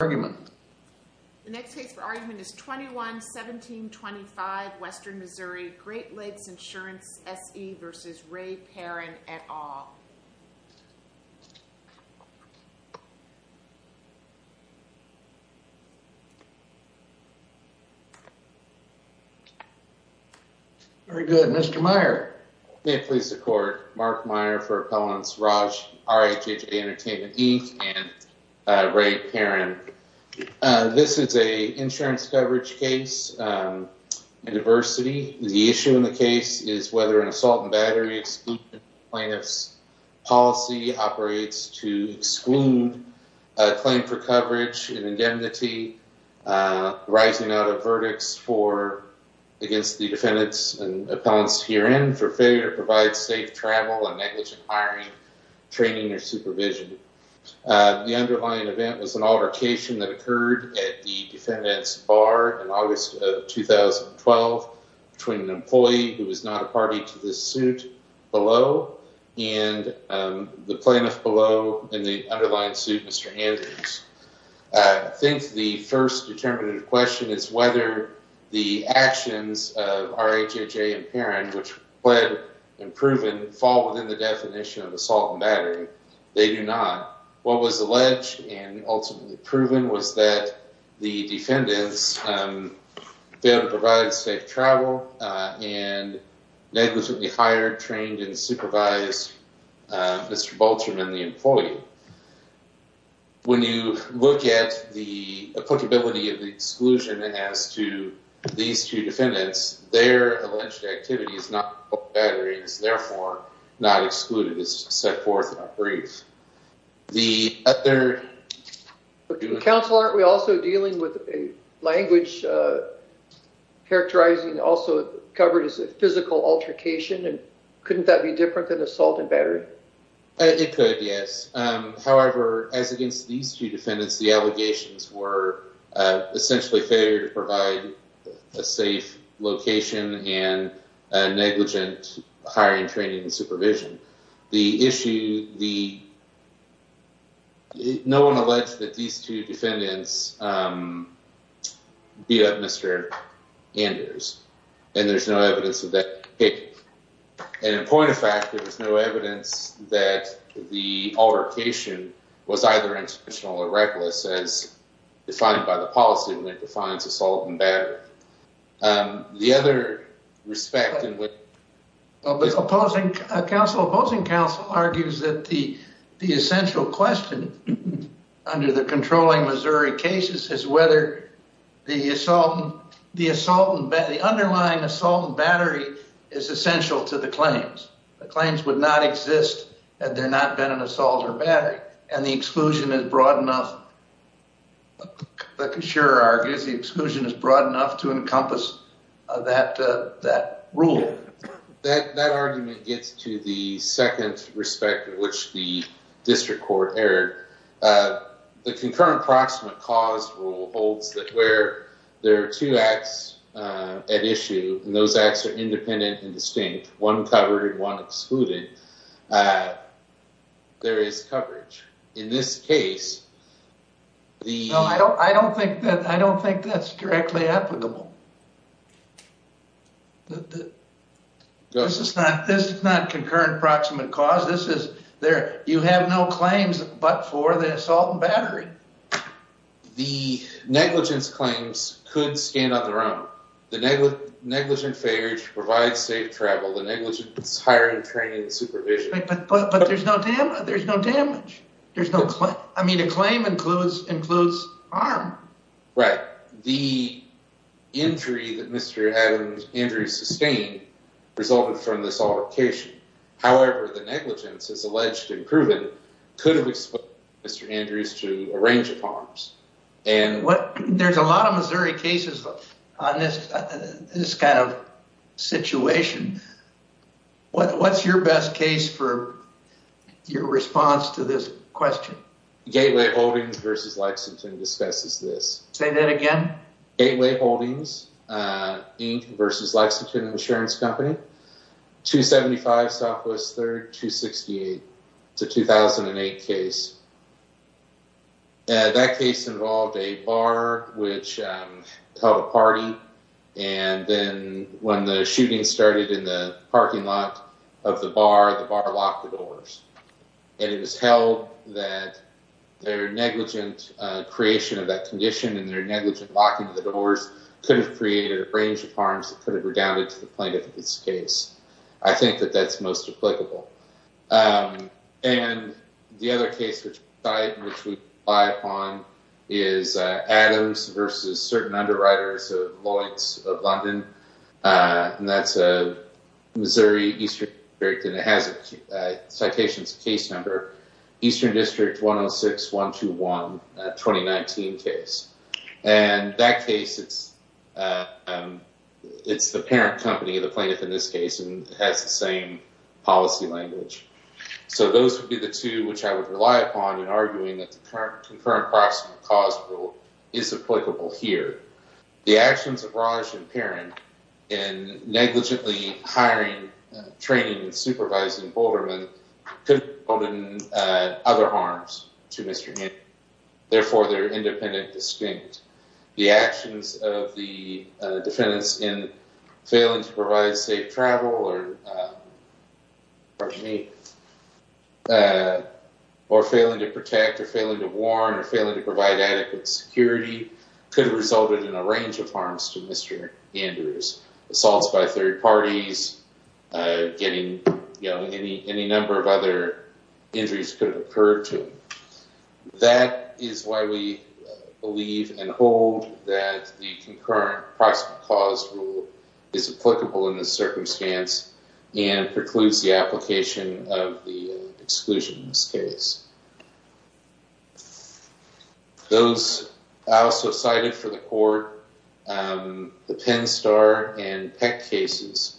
argument. The next case for argument is 21-1725 Western Missouri. Great Lakes Insurance SE v. Ray Perrin et al. Very good. Mr. Meyer. May it please the court. Mark Meyer for Appellants Raj R.A.J. Entertainment E. and Ray Perrin This is a insurance coverage case. Diversity. The issue in the case is whether an assault and battery plaintiff's policy operates to exclude a claim for coverage in indemnity rising out of verdicts for against the defendants and appellants herein for failure to provide safe travel and negligent hiring, training or supervision. The underlying event was an altercation that occurred at the defendant's bar in August of 2012 between an employee who was not a party to the suit below and the plaintiff below in the underlying suit, Mr. Andrews. I think the first determinative question is whether the actions of R.A.J.J. and Perrin, which pled and proven, fall within the definition of assault and battery. They do not. What was alleged and ultimately proven was that the defendants failed to provide safe travel and negligently hired, trained and supervised Mr. Bolcherman, the employee. When you look at the applicability of the exclusion as to these two defendants, their alleged activity is not batteries, therefore not excluded. It's set forth in a brief. The other counsel, aren't we also dealing with a language characterizing also covered as a physical altercation? And couldn't that be different than assault and battery? Yes. However, as against these two defendants, the allegations were essentially failure to provide a safe location and negligent hiring, training and supervision. The issue, the. No one alleged that these two defendants beat up Mr. Anders and there's no evidence of that. And in point of fact, there was no evidence that the altercation was either intentional or reckless as defined by the policy that defines assault and battery. The other respect. Counsel opposing counsel argues that the the essential question under the controlling Missouri cases is whether the assault, the assault, the underlying assault battery is essential to the claims. That that rule that that argument gets to the second respect, which the district court error, the concurrent proximate cause rule holds that where there are two acts at issue and those acts are independent and distinct, one covered and one excluded. There is coverage in this case. I don't I don't think that I don't think that's directly applicable. This is not this is not concurrent proximate cause. This is there. You have no claims but for the assault and battery. The negligence claims could stand on their own. The negligent failure to provide safe travel, the negligence, hiring, training and supervision. But there's no damage. There's no damage. There's no. I mean, a claim includes includes harm. Right. The injury that Mr. Adams Andrews sustained resulted from this altercation. However, the negligence is alleged and proven could have exposed Mr. Andrews to a range of harms. And there's a lot of Missouri cases on this kind of situation. What's your best case for your response to this question? Gateway Holdings versus Lexington discusses this. Say that again. Gateway Holdings Inc. versus Lexington Insurance Company, 275 Southwest 3rd, 268. It's a 2008 case. That case involved a bar, which held a party. And then when the shooting started in the parking lot of the bar, the bar locked the doors. And it was held that their negligent creation of that condition and their negligent locking the doors could have created a range of harms that could have redounded to the plaintiff in this case. I think that that's most applicable. And the other case, which I, which we buy on is Adams versus certain underwriters of Lloyd's of London. And that's a Missouri district. And it has a citations case number, Eastern District 106, 121, 2019 case. And that case, it's, it's the parent company of the plaintiff in this case and has the same policy language. So those would be the two which I would rely upon in arguing that the current concurrent approximate cause rule is applicable here. The actions of Raj and Perrin in negligently hiring, training, and supervising bouldermen could have resulted in other harms to Mr. Gannon. Therefore, they're independent distinct. The actions of the defendants in failing to provide safe travel or failing to protect or failing to warn or failing to provide adequate security could have resulted in a range of harms to Mr. Gannon. Assaults by third parties, getting, you know, any, any number of other injuries could have occurred to him. That is why we believe and hold that the concurrent approximate cause rule is applicable in this circumstance and precludes the application of the exclusion in this case. Those, I also cited for the court, the Penn Star and Peck cases,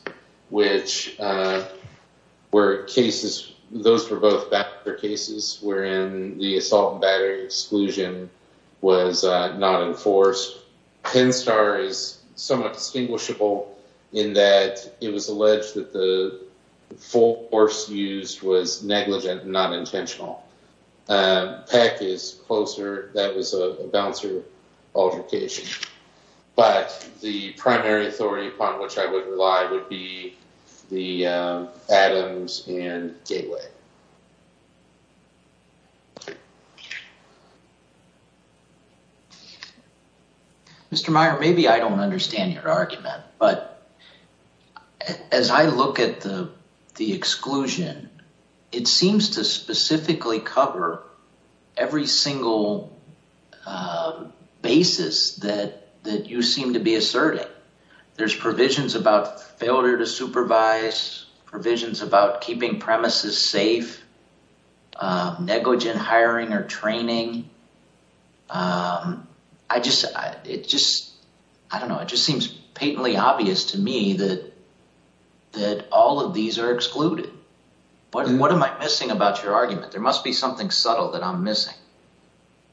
which were cases, those were both cases wherein the assault and battery exclusion was not enforced. Penn Star is somewhat distinguishable in that it was alleged that the full force used was negligent and not intentional. Peck is closer. That was a bouncer altercation. But the primary authority upon which I would rely would be the Adams and Gateway. Mr. Meyer, maybe I don't understand your argument, but as I look at the exclusion, it seems to specifically cover every single basis that you seem to be asserting. There's provisions about failure to supervise, provisions about keeping premises safe, negligent hiring or training. I just it just I don't know. It just seems patently obvious to me that that all of these are excluded. But what am I missing about your argument? There must be something subtle that I'm missing.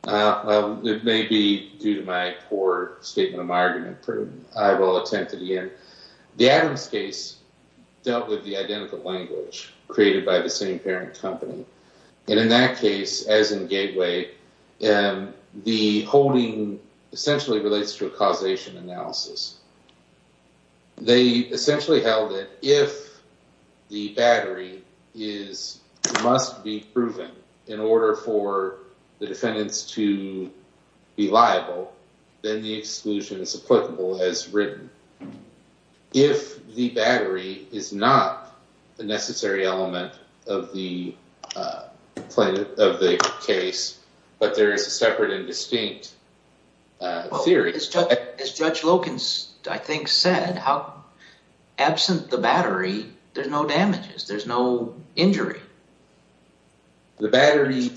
It may be due to my poor statement of my argument. I will attempt to the end. The Adams case dealt with the identical language created by the same parent company. And in that case, as in Gateway, the holding essentially relates to a causation analysis. They essentially held that if the battery is must be proven in order for the defendants to be liable, then the exclusion is applicable as written. If the battery is not the necessary element of the case, but there is a separate and distinct theory. As Judge Loken, I think, said how absent the battery, there's no damages. There's no injury. The battery.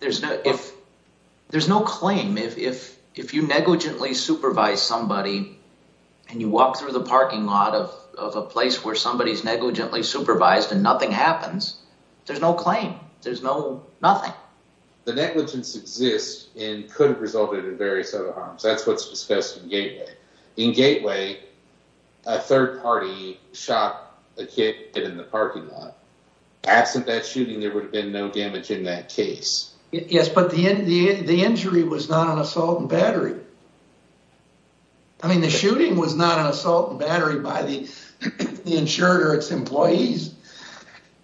There's no if there's no claim. If if if you negligently supervise somebody and you walk through the parking lot of of a place where somebody is negligently supervised and nothing happens, there's no claim. There's no nothing. The negligence exists and could have resulted in various other harms. That's what's discussed in Gateway. In Gateway, a third party shot a kid in the parking lot. Absent that shooting, there would have been no damage in that case. Yes, but the the the injury was not an assault and battery. I mean, the shooting was not an assault battery by the insured or its employees.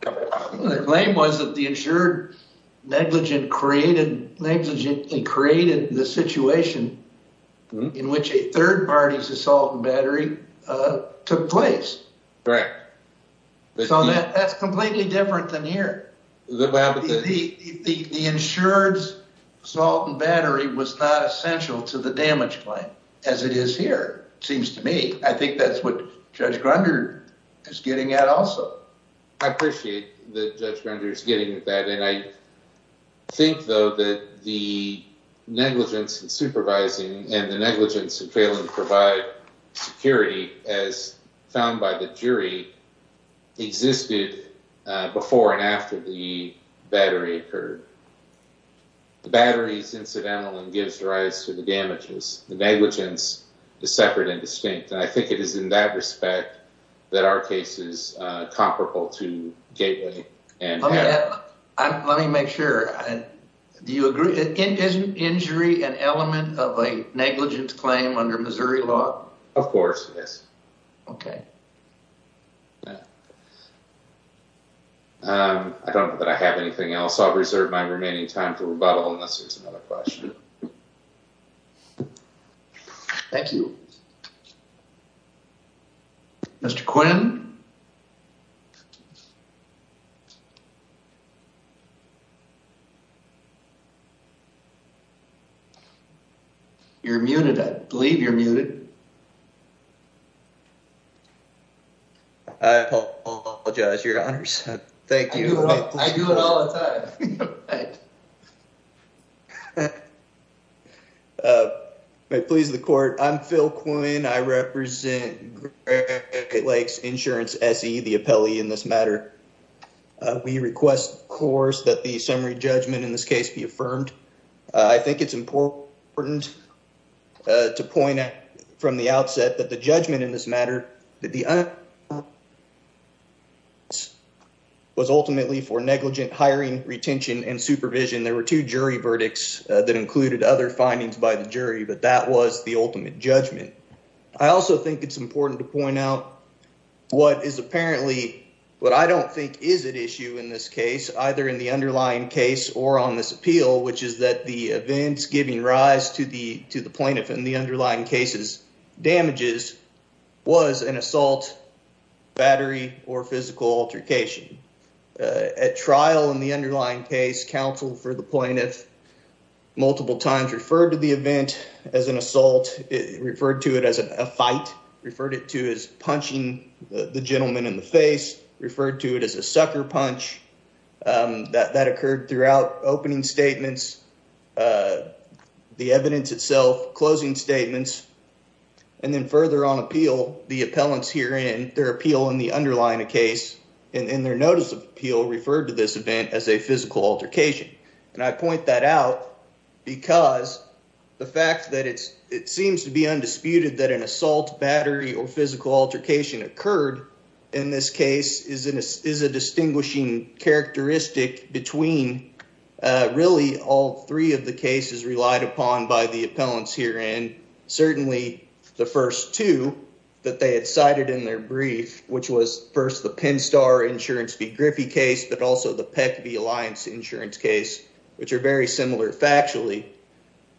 The claim was that the insured negligent created negligent and created the situation in which a third party's assault and battery took place. Correct. So that's completely different than here. The insured assault and battery was not essential to the damage claim as it is here, seems to me. I think that's what Judge Grunder is getting at. Also, I appreciate that Judge Grunder is getting that. And I think, though, that the negligence in supervising and the negligence of failing to provide security, as found by the jury, existed before and after the battery occurred. The battery is incidental and gives rise to the damages. The negligence is separate and distinct. I think it is in that respect that our case is comparable to Gateway. Let me make sure. Do you agree? Isn't injury an element of a negligence claim under Missouri law? Of course. Yes. OK. I don't know that I have anything else. I'll reserve my remaining time for rebuttal unless there's another question. Thank you. Mr. Quinn. You're muted. I believe you're muted. I apologize, Your Honors. Thank you. I do it all the time. May it please the court. I'm Phil Quinn. I represent Great Lakes Insurance, S.E., the appellee in this matter. We request, of course, that the summary judgment in this case be affirmed. I think it's important to point out from the outset that the judgment in this matter was ultimately for negligent hiring, retention, and supervision. There were two jury verdicts that included other findings by the jury, but that was the ultimate judgment. I also think it's important to point out what is apparently what I don't think is at issue in this case, either in the underlying case or on this appeal, which is that the events giving rise to the plaintiff in the underlying case's damages was an assault, battery, or physical altercation. At trial in the underlying case, counsel for the plaintiff multiple times referred to the event as an assault, referred to it as a fight, referred it to as punching the gentleman in the face, referred to it as a sucker punch. That occurred throughout opening statements, the evidence itself, closing statements, and then further on appeal, the appellants here in their appeal in the underlying case in their notice of appeal referred to this event as a physical altercation. I point that out because the fact that it seems to be undisputed that an assault, battery, or physical altercation occurred in this case is a distinguishing characteristic between really all three of the cases relied upon by the appellants here, and certainly the first two that they had cited in their brief, which was first the Penn Star Insurance v. Griffey case, but also the Peck v. Alliance Insurance case, which are very similar factually.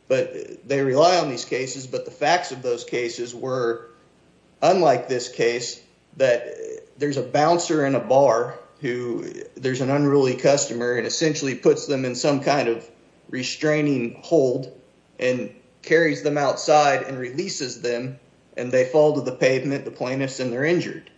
They rely on these cases, but the facts of those cases were, unlike this case, that there's a bouncer in a bar who there's an unruly customer and essentially puts them in some kind of restraining hold and carries them outside and releases them, and they fall to the pavement, the plaintiffs, and they're injured.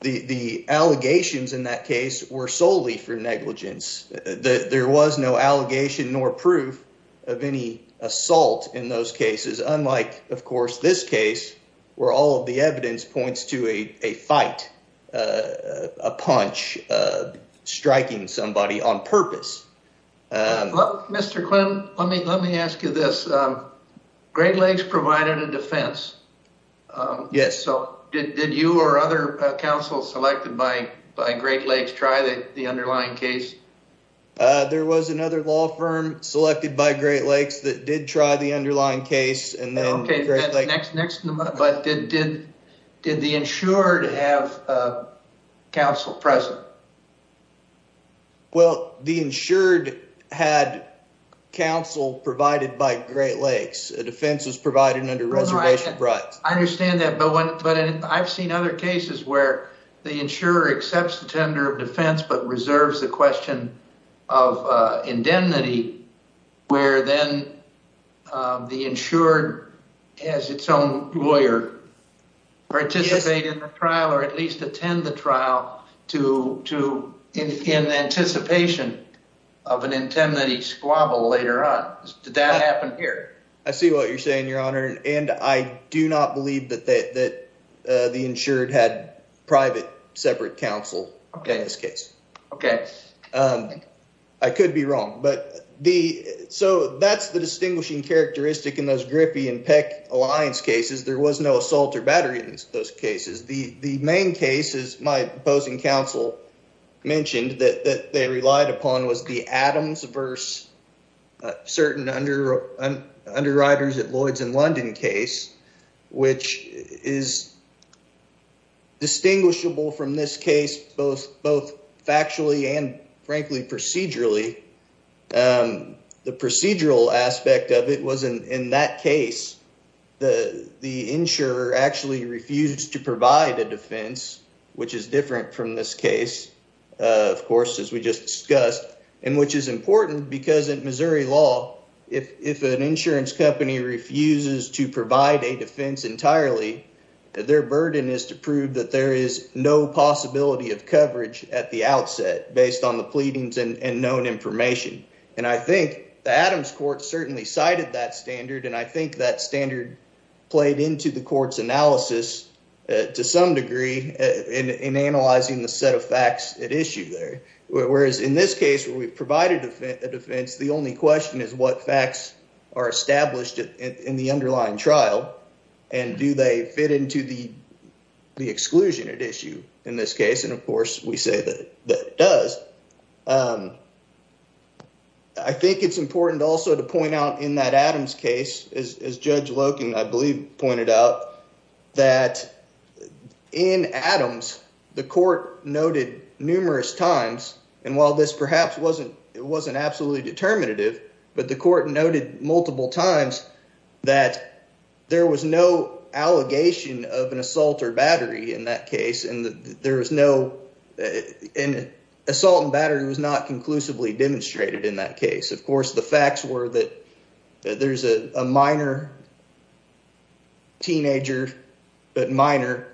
The allegations in that case were solely for negligence. There was no allegation nor proof of any assault in those cases, unlike, of course, this case, where all of the evidence points to a fight, a punch, striking somebody on purpose. Mr. Quinn, let me ask you this. Great Lakes provided a defense. Yes. Did you or other counsels selected by Great Lakes try the underlying case? There was another law firm selected by Great Lakes that did try the underlying case. Did the insured have counsel present? Well, the insured had counsel provided by Great Lakes. A defense was provided under reservation rights. I understand that, but I've seen other cases where the insurer accepts the tender of defense, but reserves the question of indemnity, where then the insured has its own lawyer participate in the trial or at least attend the trial in anticipation of an indemnity squabble later on. Did that happen here? I see what you're saying, Your Honor. And I do not believe that the insured had private separate counsel in this case. Okay. I could be wrong. So, that's the distinguishing characteristic in those Griffey and Peck Alliance cases. There was no assault or battery in those cases. The main case, as my opposing counsel mentioned, that they relied upon was the Adams versus certain underwriters at Lloyds and London case, which is distinguishable from this case both factually and, frankly, procedurally. The procedural aspect of it was in that case, the insurer actually refused to provide a defense, which is different from this case, of course, as we just discussed, and which is important because in Missouri law, if an insurance company refuses to provide a defense entirely, their burden is to prove that there is no possibility of coverage at the outset based on the pleadings and known information. And I think the Adams court certainly cited that standard, and I think that standard played into the court's analysis to some degree in analyzing the set of facts at issue there. Whereas in this case, where we've provided a defense, the only question is what facts are established in the underlying trial, and do they fit into the exclusion at issue in this case? And, of course, we say that it does. I think it's important also to point out in that Adams case, as Judge Loken, I believe, pointed out, that in Adams, the court noted numerous times, and while this perhaps wasn't absolutely determinative, but the court noted multiple times that there was no allegation of an assault or battery in that case, and assault and battery was not conclusively demonstrated in that case. Of course, the facts were that there's a minor teenager that minor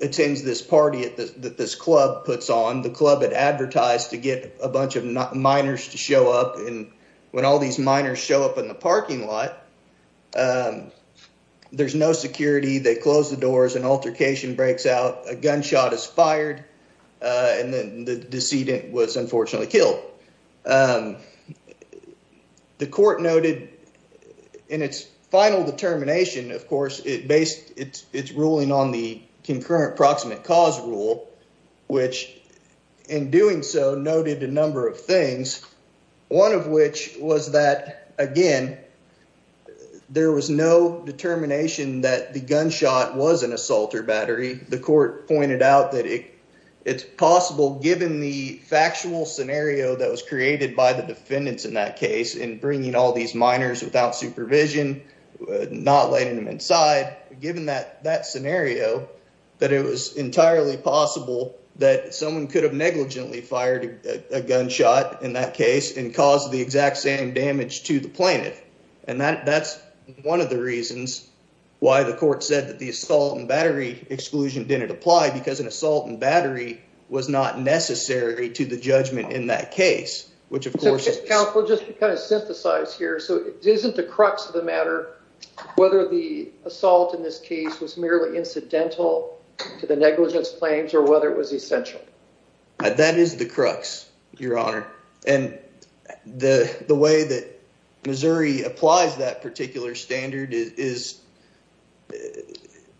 attends this party that this club puts on. The club had advertised to get a bunch of minors to show up. And when all these minors show up in the parking lot, there's no security. They close the doors. An altercation breaks out. A gunshot is fired. And then the decedent was unfortunately killed. The court noted in its final determination, of course, it based its ruling on the concurrent proximate cause rule, which in doing so noted a number of things, one of which was that, again, there was no determination that the gunshot was an assault or battery. The court pointed out that it's possible, given the factual scenario that was created by the defendants in that case, in bringing all these minors without supervision, not letting them inside, given that scenario, that it was entirely possible that someone could have negligently fired a gunshot in that case and caused the exact same damage to the plaintiff. And that's one of the reasons why the court said that the assault and battery exclusion didn't apply, because an assault and battery was not necessary to the judgment in that case, which, of course. Counselor, just kind of synthesize here. So isn't the crux of the matter whether the assault in this case was merely incidental to the negligence claims or whether it was essential? That is the crux, Your Honor. And the way that Missouri applies that particular standard is,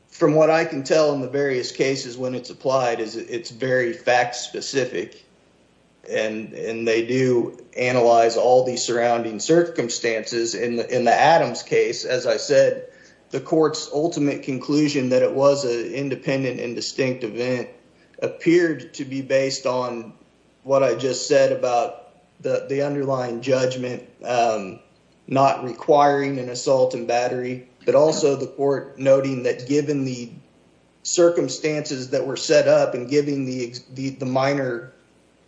from what I can tell in the various cases when it's applied, is it's very fact specific. And they do analyze all the surrounding circumstances. In the Adams case, as I said, the court's ultimate conclusion that it was an independent and distinct event appeared to be based on what I just said about the underlying judgment not requiring an assault and battery, but also the court noting that given the circumstances that were set up and giving the minor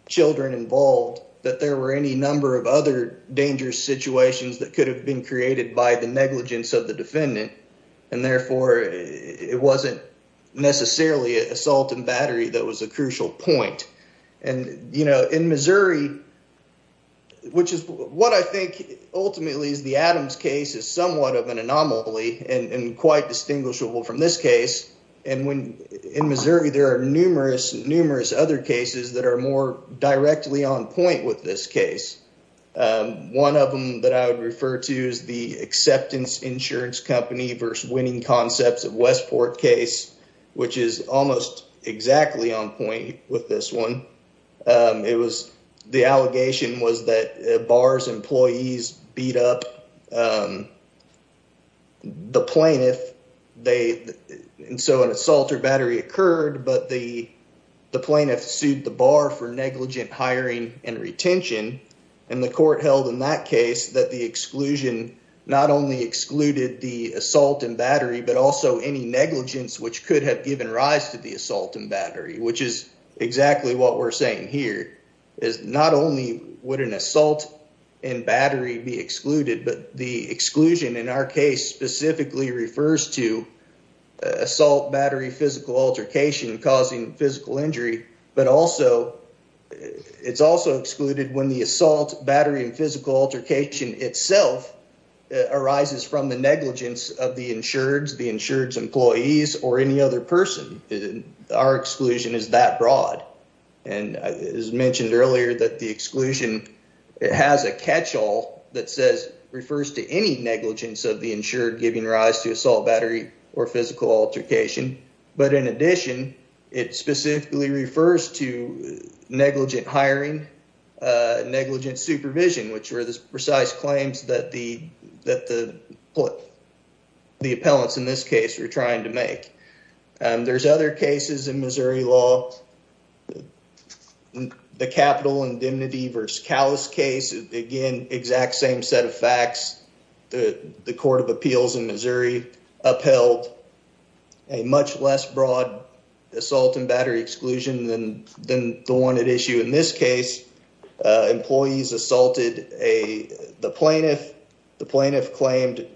children involved, that there were any number of other dangerous situations that could have been created by the negligence of the defendant. And therefore, it wasn't necessarily assault and battery that was a crucial point. And, you know, in Missouri, which is what I think ultimately is the Adams case is somewhat of an anomaly and quite distinguishable from this case. And when in Missouri, there are numerous, numerous other cases that are more directly on point with this case. One of them that I would refer to is the acceptance insurance company versus winning concepts of Westport case, which is almost exactly on point with this one. It was the allegation was that bars employees beat up the plaintiff. And so an assault or battery occurred, but the plaintiff sued the bar for negligent hiring and retention. And the court held in that case that the exclusion not only excluded the assault and battery, but also any negligence which could have given rise to the assault and battery, which is exactly what we're saying here is not only would an assault and battery be excluded, but the exclusion in our case specifically refers to assault, battery, physical altercation, causing physical injury. But also it's also excluded when the assault, battery and physical altercation itself arises from the negligence of the insured, the insured employees or any other person. Our exclusion is that broad. And as mentioned earlier, that the exclusion, it has a catch all that says refers to any negligence of the insured giving rise to assault, battery or physical altercation. But in addition, it specifically refers to negligent hiring, negligent supervision, which were the precise claims that the that the the appellants in this case are trying to make. And there's other cases in Missouri law. The capital indemnity versus callous case, again, exact same set of facts. The Court of Appeals in Missouri upheld a much less broad assault and battery exclusion than than the one at issue in this case. Employees assaulted the plaintiff. The plaintiff claimed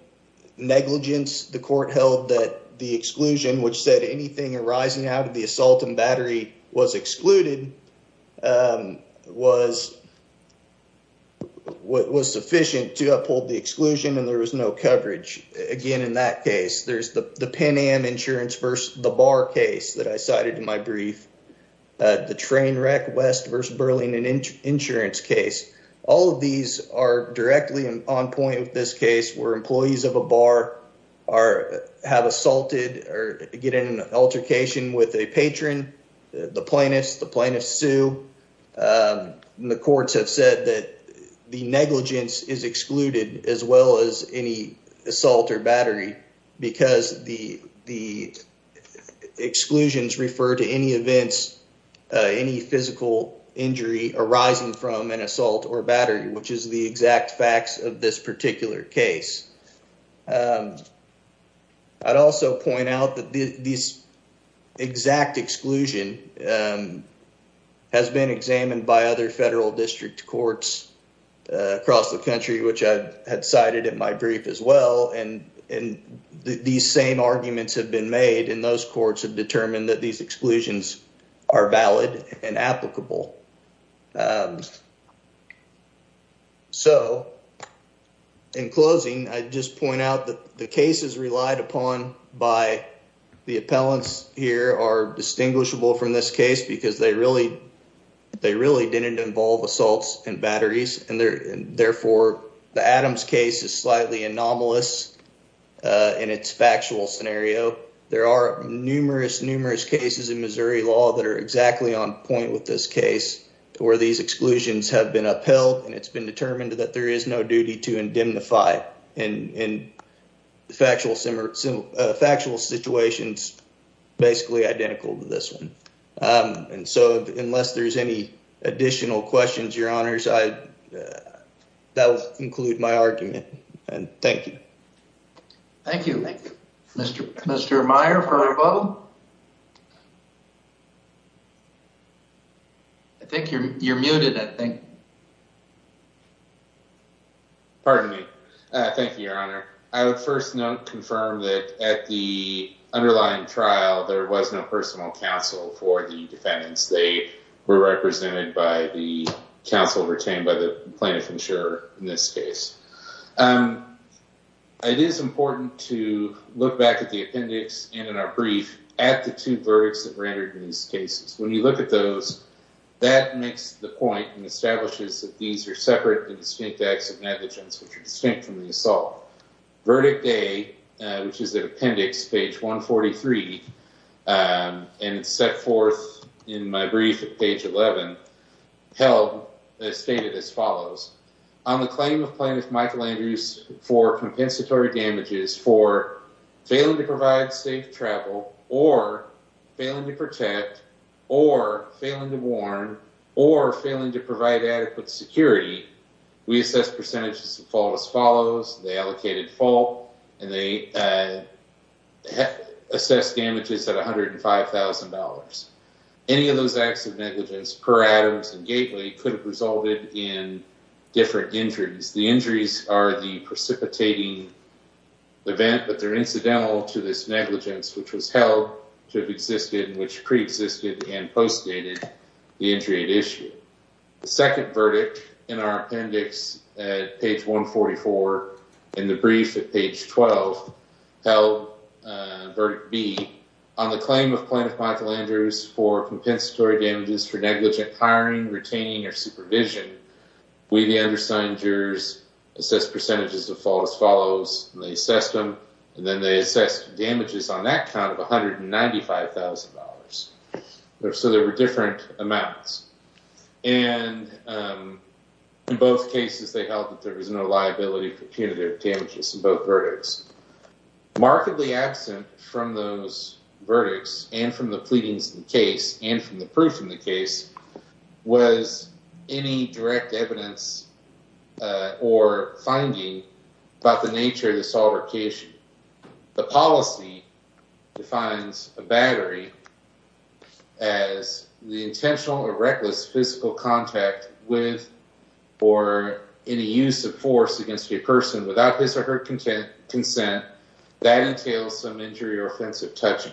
negligence. The court held that the exclusion, which said anything arising out of the assault and battery was excluded, was what was sufficient to uphold the exclusion. And there was no coverage. Again, in that case, there's the Pan Am insurance versus the bar case that I cited in my brief. The train wreck west versus Berlin and insurance case. All of these are directly on point with this case where employees of a bar are have assaulted or get in an altercation with a patron. The plaintiffs, the plaintiffs sue. The courts have said that the negligence is excluded as well as any assault or battery, because the the exclusions refer to any events, any physical injury arising from an assault or battery, which is the exact facts of this particular case. I'd also point out that these exact exclusion has been examined by other federal district courts across the country, which had cited in my brief as well. And these same arguments have been made in those courts have determined that these exclusions are valid and applicable. So in closing, I just point out that the cases relied upon by the appellants here are distinguishable from this case because they really, really didn't involve assaults and batteries. And therefore, the Adams case is slightly anomalous in its factual scenario. There are numerous, numerous cases in Missouri law that are exactly on point with this case where these exclusions have been upheld. And it's been determined that there is no duty to indemnify and factual, factual situations basically identical to this one. And so unless there's any additional questions, your honors, I that will include my argument. And thank you. Thank you, Mr. Mr. Meyer. I think you're you're muted, I think. Pardon me. Thank you, Your Honor. I would first note, confirm that at the underlying trial, there was no personal counsel for the defendants. They were represented by the counsel retained by the plaintiff insurer. In this case, it is important to look back at the appendix and in our brief at the two verdicts that rendered in these cases. When you look at those, that makes the point and establishes that these are separate and distinct acts of negligence, which are distinct from the assault. Verdict A, which is the appendix page 143 and set forth in my brief at page 11, held as stated as follows on the claim of plaintiff Michael Andrews for compensatory damages for failing to provide safe travel or failing to protect or failing to warn or failing to provide adequate security. We assess percentages fall as follows. They allocated full and they assess damages at one hundred and five thousand dollars. Any of those acts of negligence per Adams and Gately could have resulted in different injuries. The injuries are the precipitating event, but they're incidental to this negligence, which was held to have existed, which preexisted and postdated the injury issue. The second verdict in our appendix at page 144 in the brief at page 12 held. Verdict B on the claim of plaintiff Michael Andrews for compensatory damages for negligent hiring, retaining or supervision. We, the undersigned jurors, assess percentages of false follows the system, and then they assess damages on that count of one hundred and ninety five thousand dollars. So there were different amounts. And in both cases, they held that there was no liability for punitive damages in both verdicts. Markedly absent from those verdicts and from the pleadings in the case and from the proof in the case was any direct evidence or finding about the nature of the solver case. The policy defines a battery as the intentional or reckless physical contact with or any use of force against a person without his or her consent. That entails some injury or offensive touching.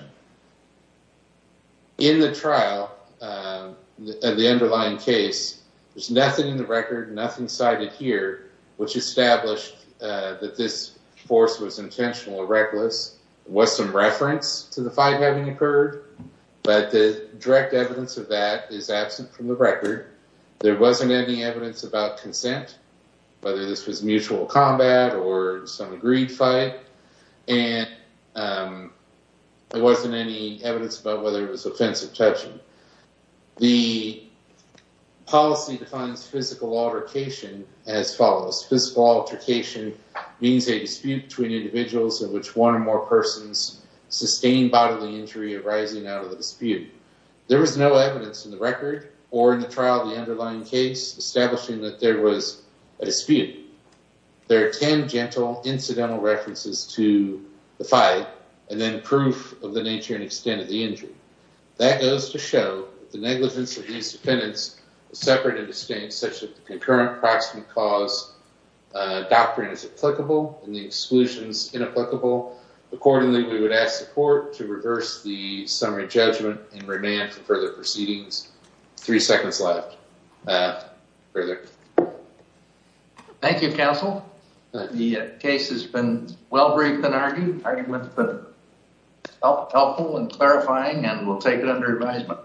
In the trial, the underlying case, there's nothing in the record, nothing cited here, which established that this force was intentional or reckless was some reference to the fight having occurred. But the direct evidence of that is absent from the record. There wasn't any evidence about consent, whether this was mutual combat or some agreed fight. And there wasn't any evidence about whether it was offensive touching. The policy defines physical altercation as follows. Physical altercation means a dispute between individuals in which one or more persons sustained bodily injury arising out of the dispute. There was no evidence in the record or in the trial of the underlying case establishing that there was a dispute. There are tangential incidental references to the fight and then proof of the nature and extent of the injury. That goes to show the negligence of these defendants separate and distinct such that the concurrent proximate cause doctrine is applicable and the exclusions inapplicable. Accordingly, we would ask the court to reverse the summary judgment and remand for further proceedings. Three seconds left. Further. Thank you, counsel. The case has been well briefed and argued. Argued with the helpful and clarifying and we'll take it under advisement.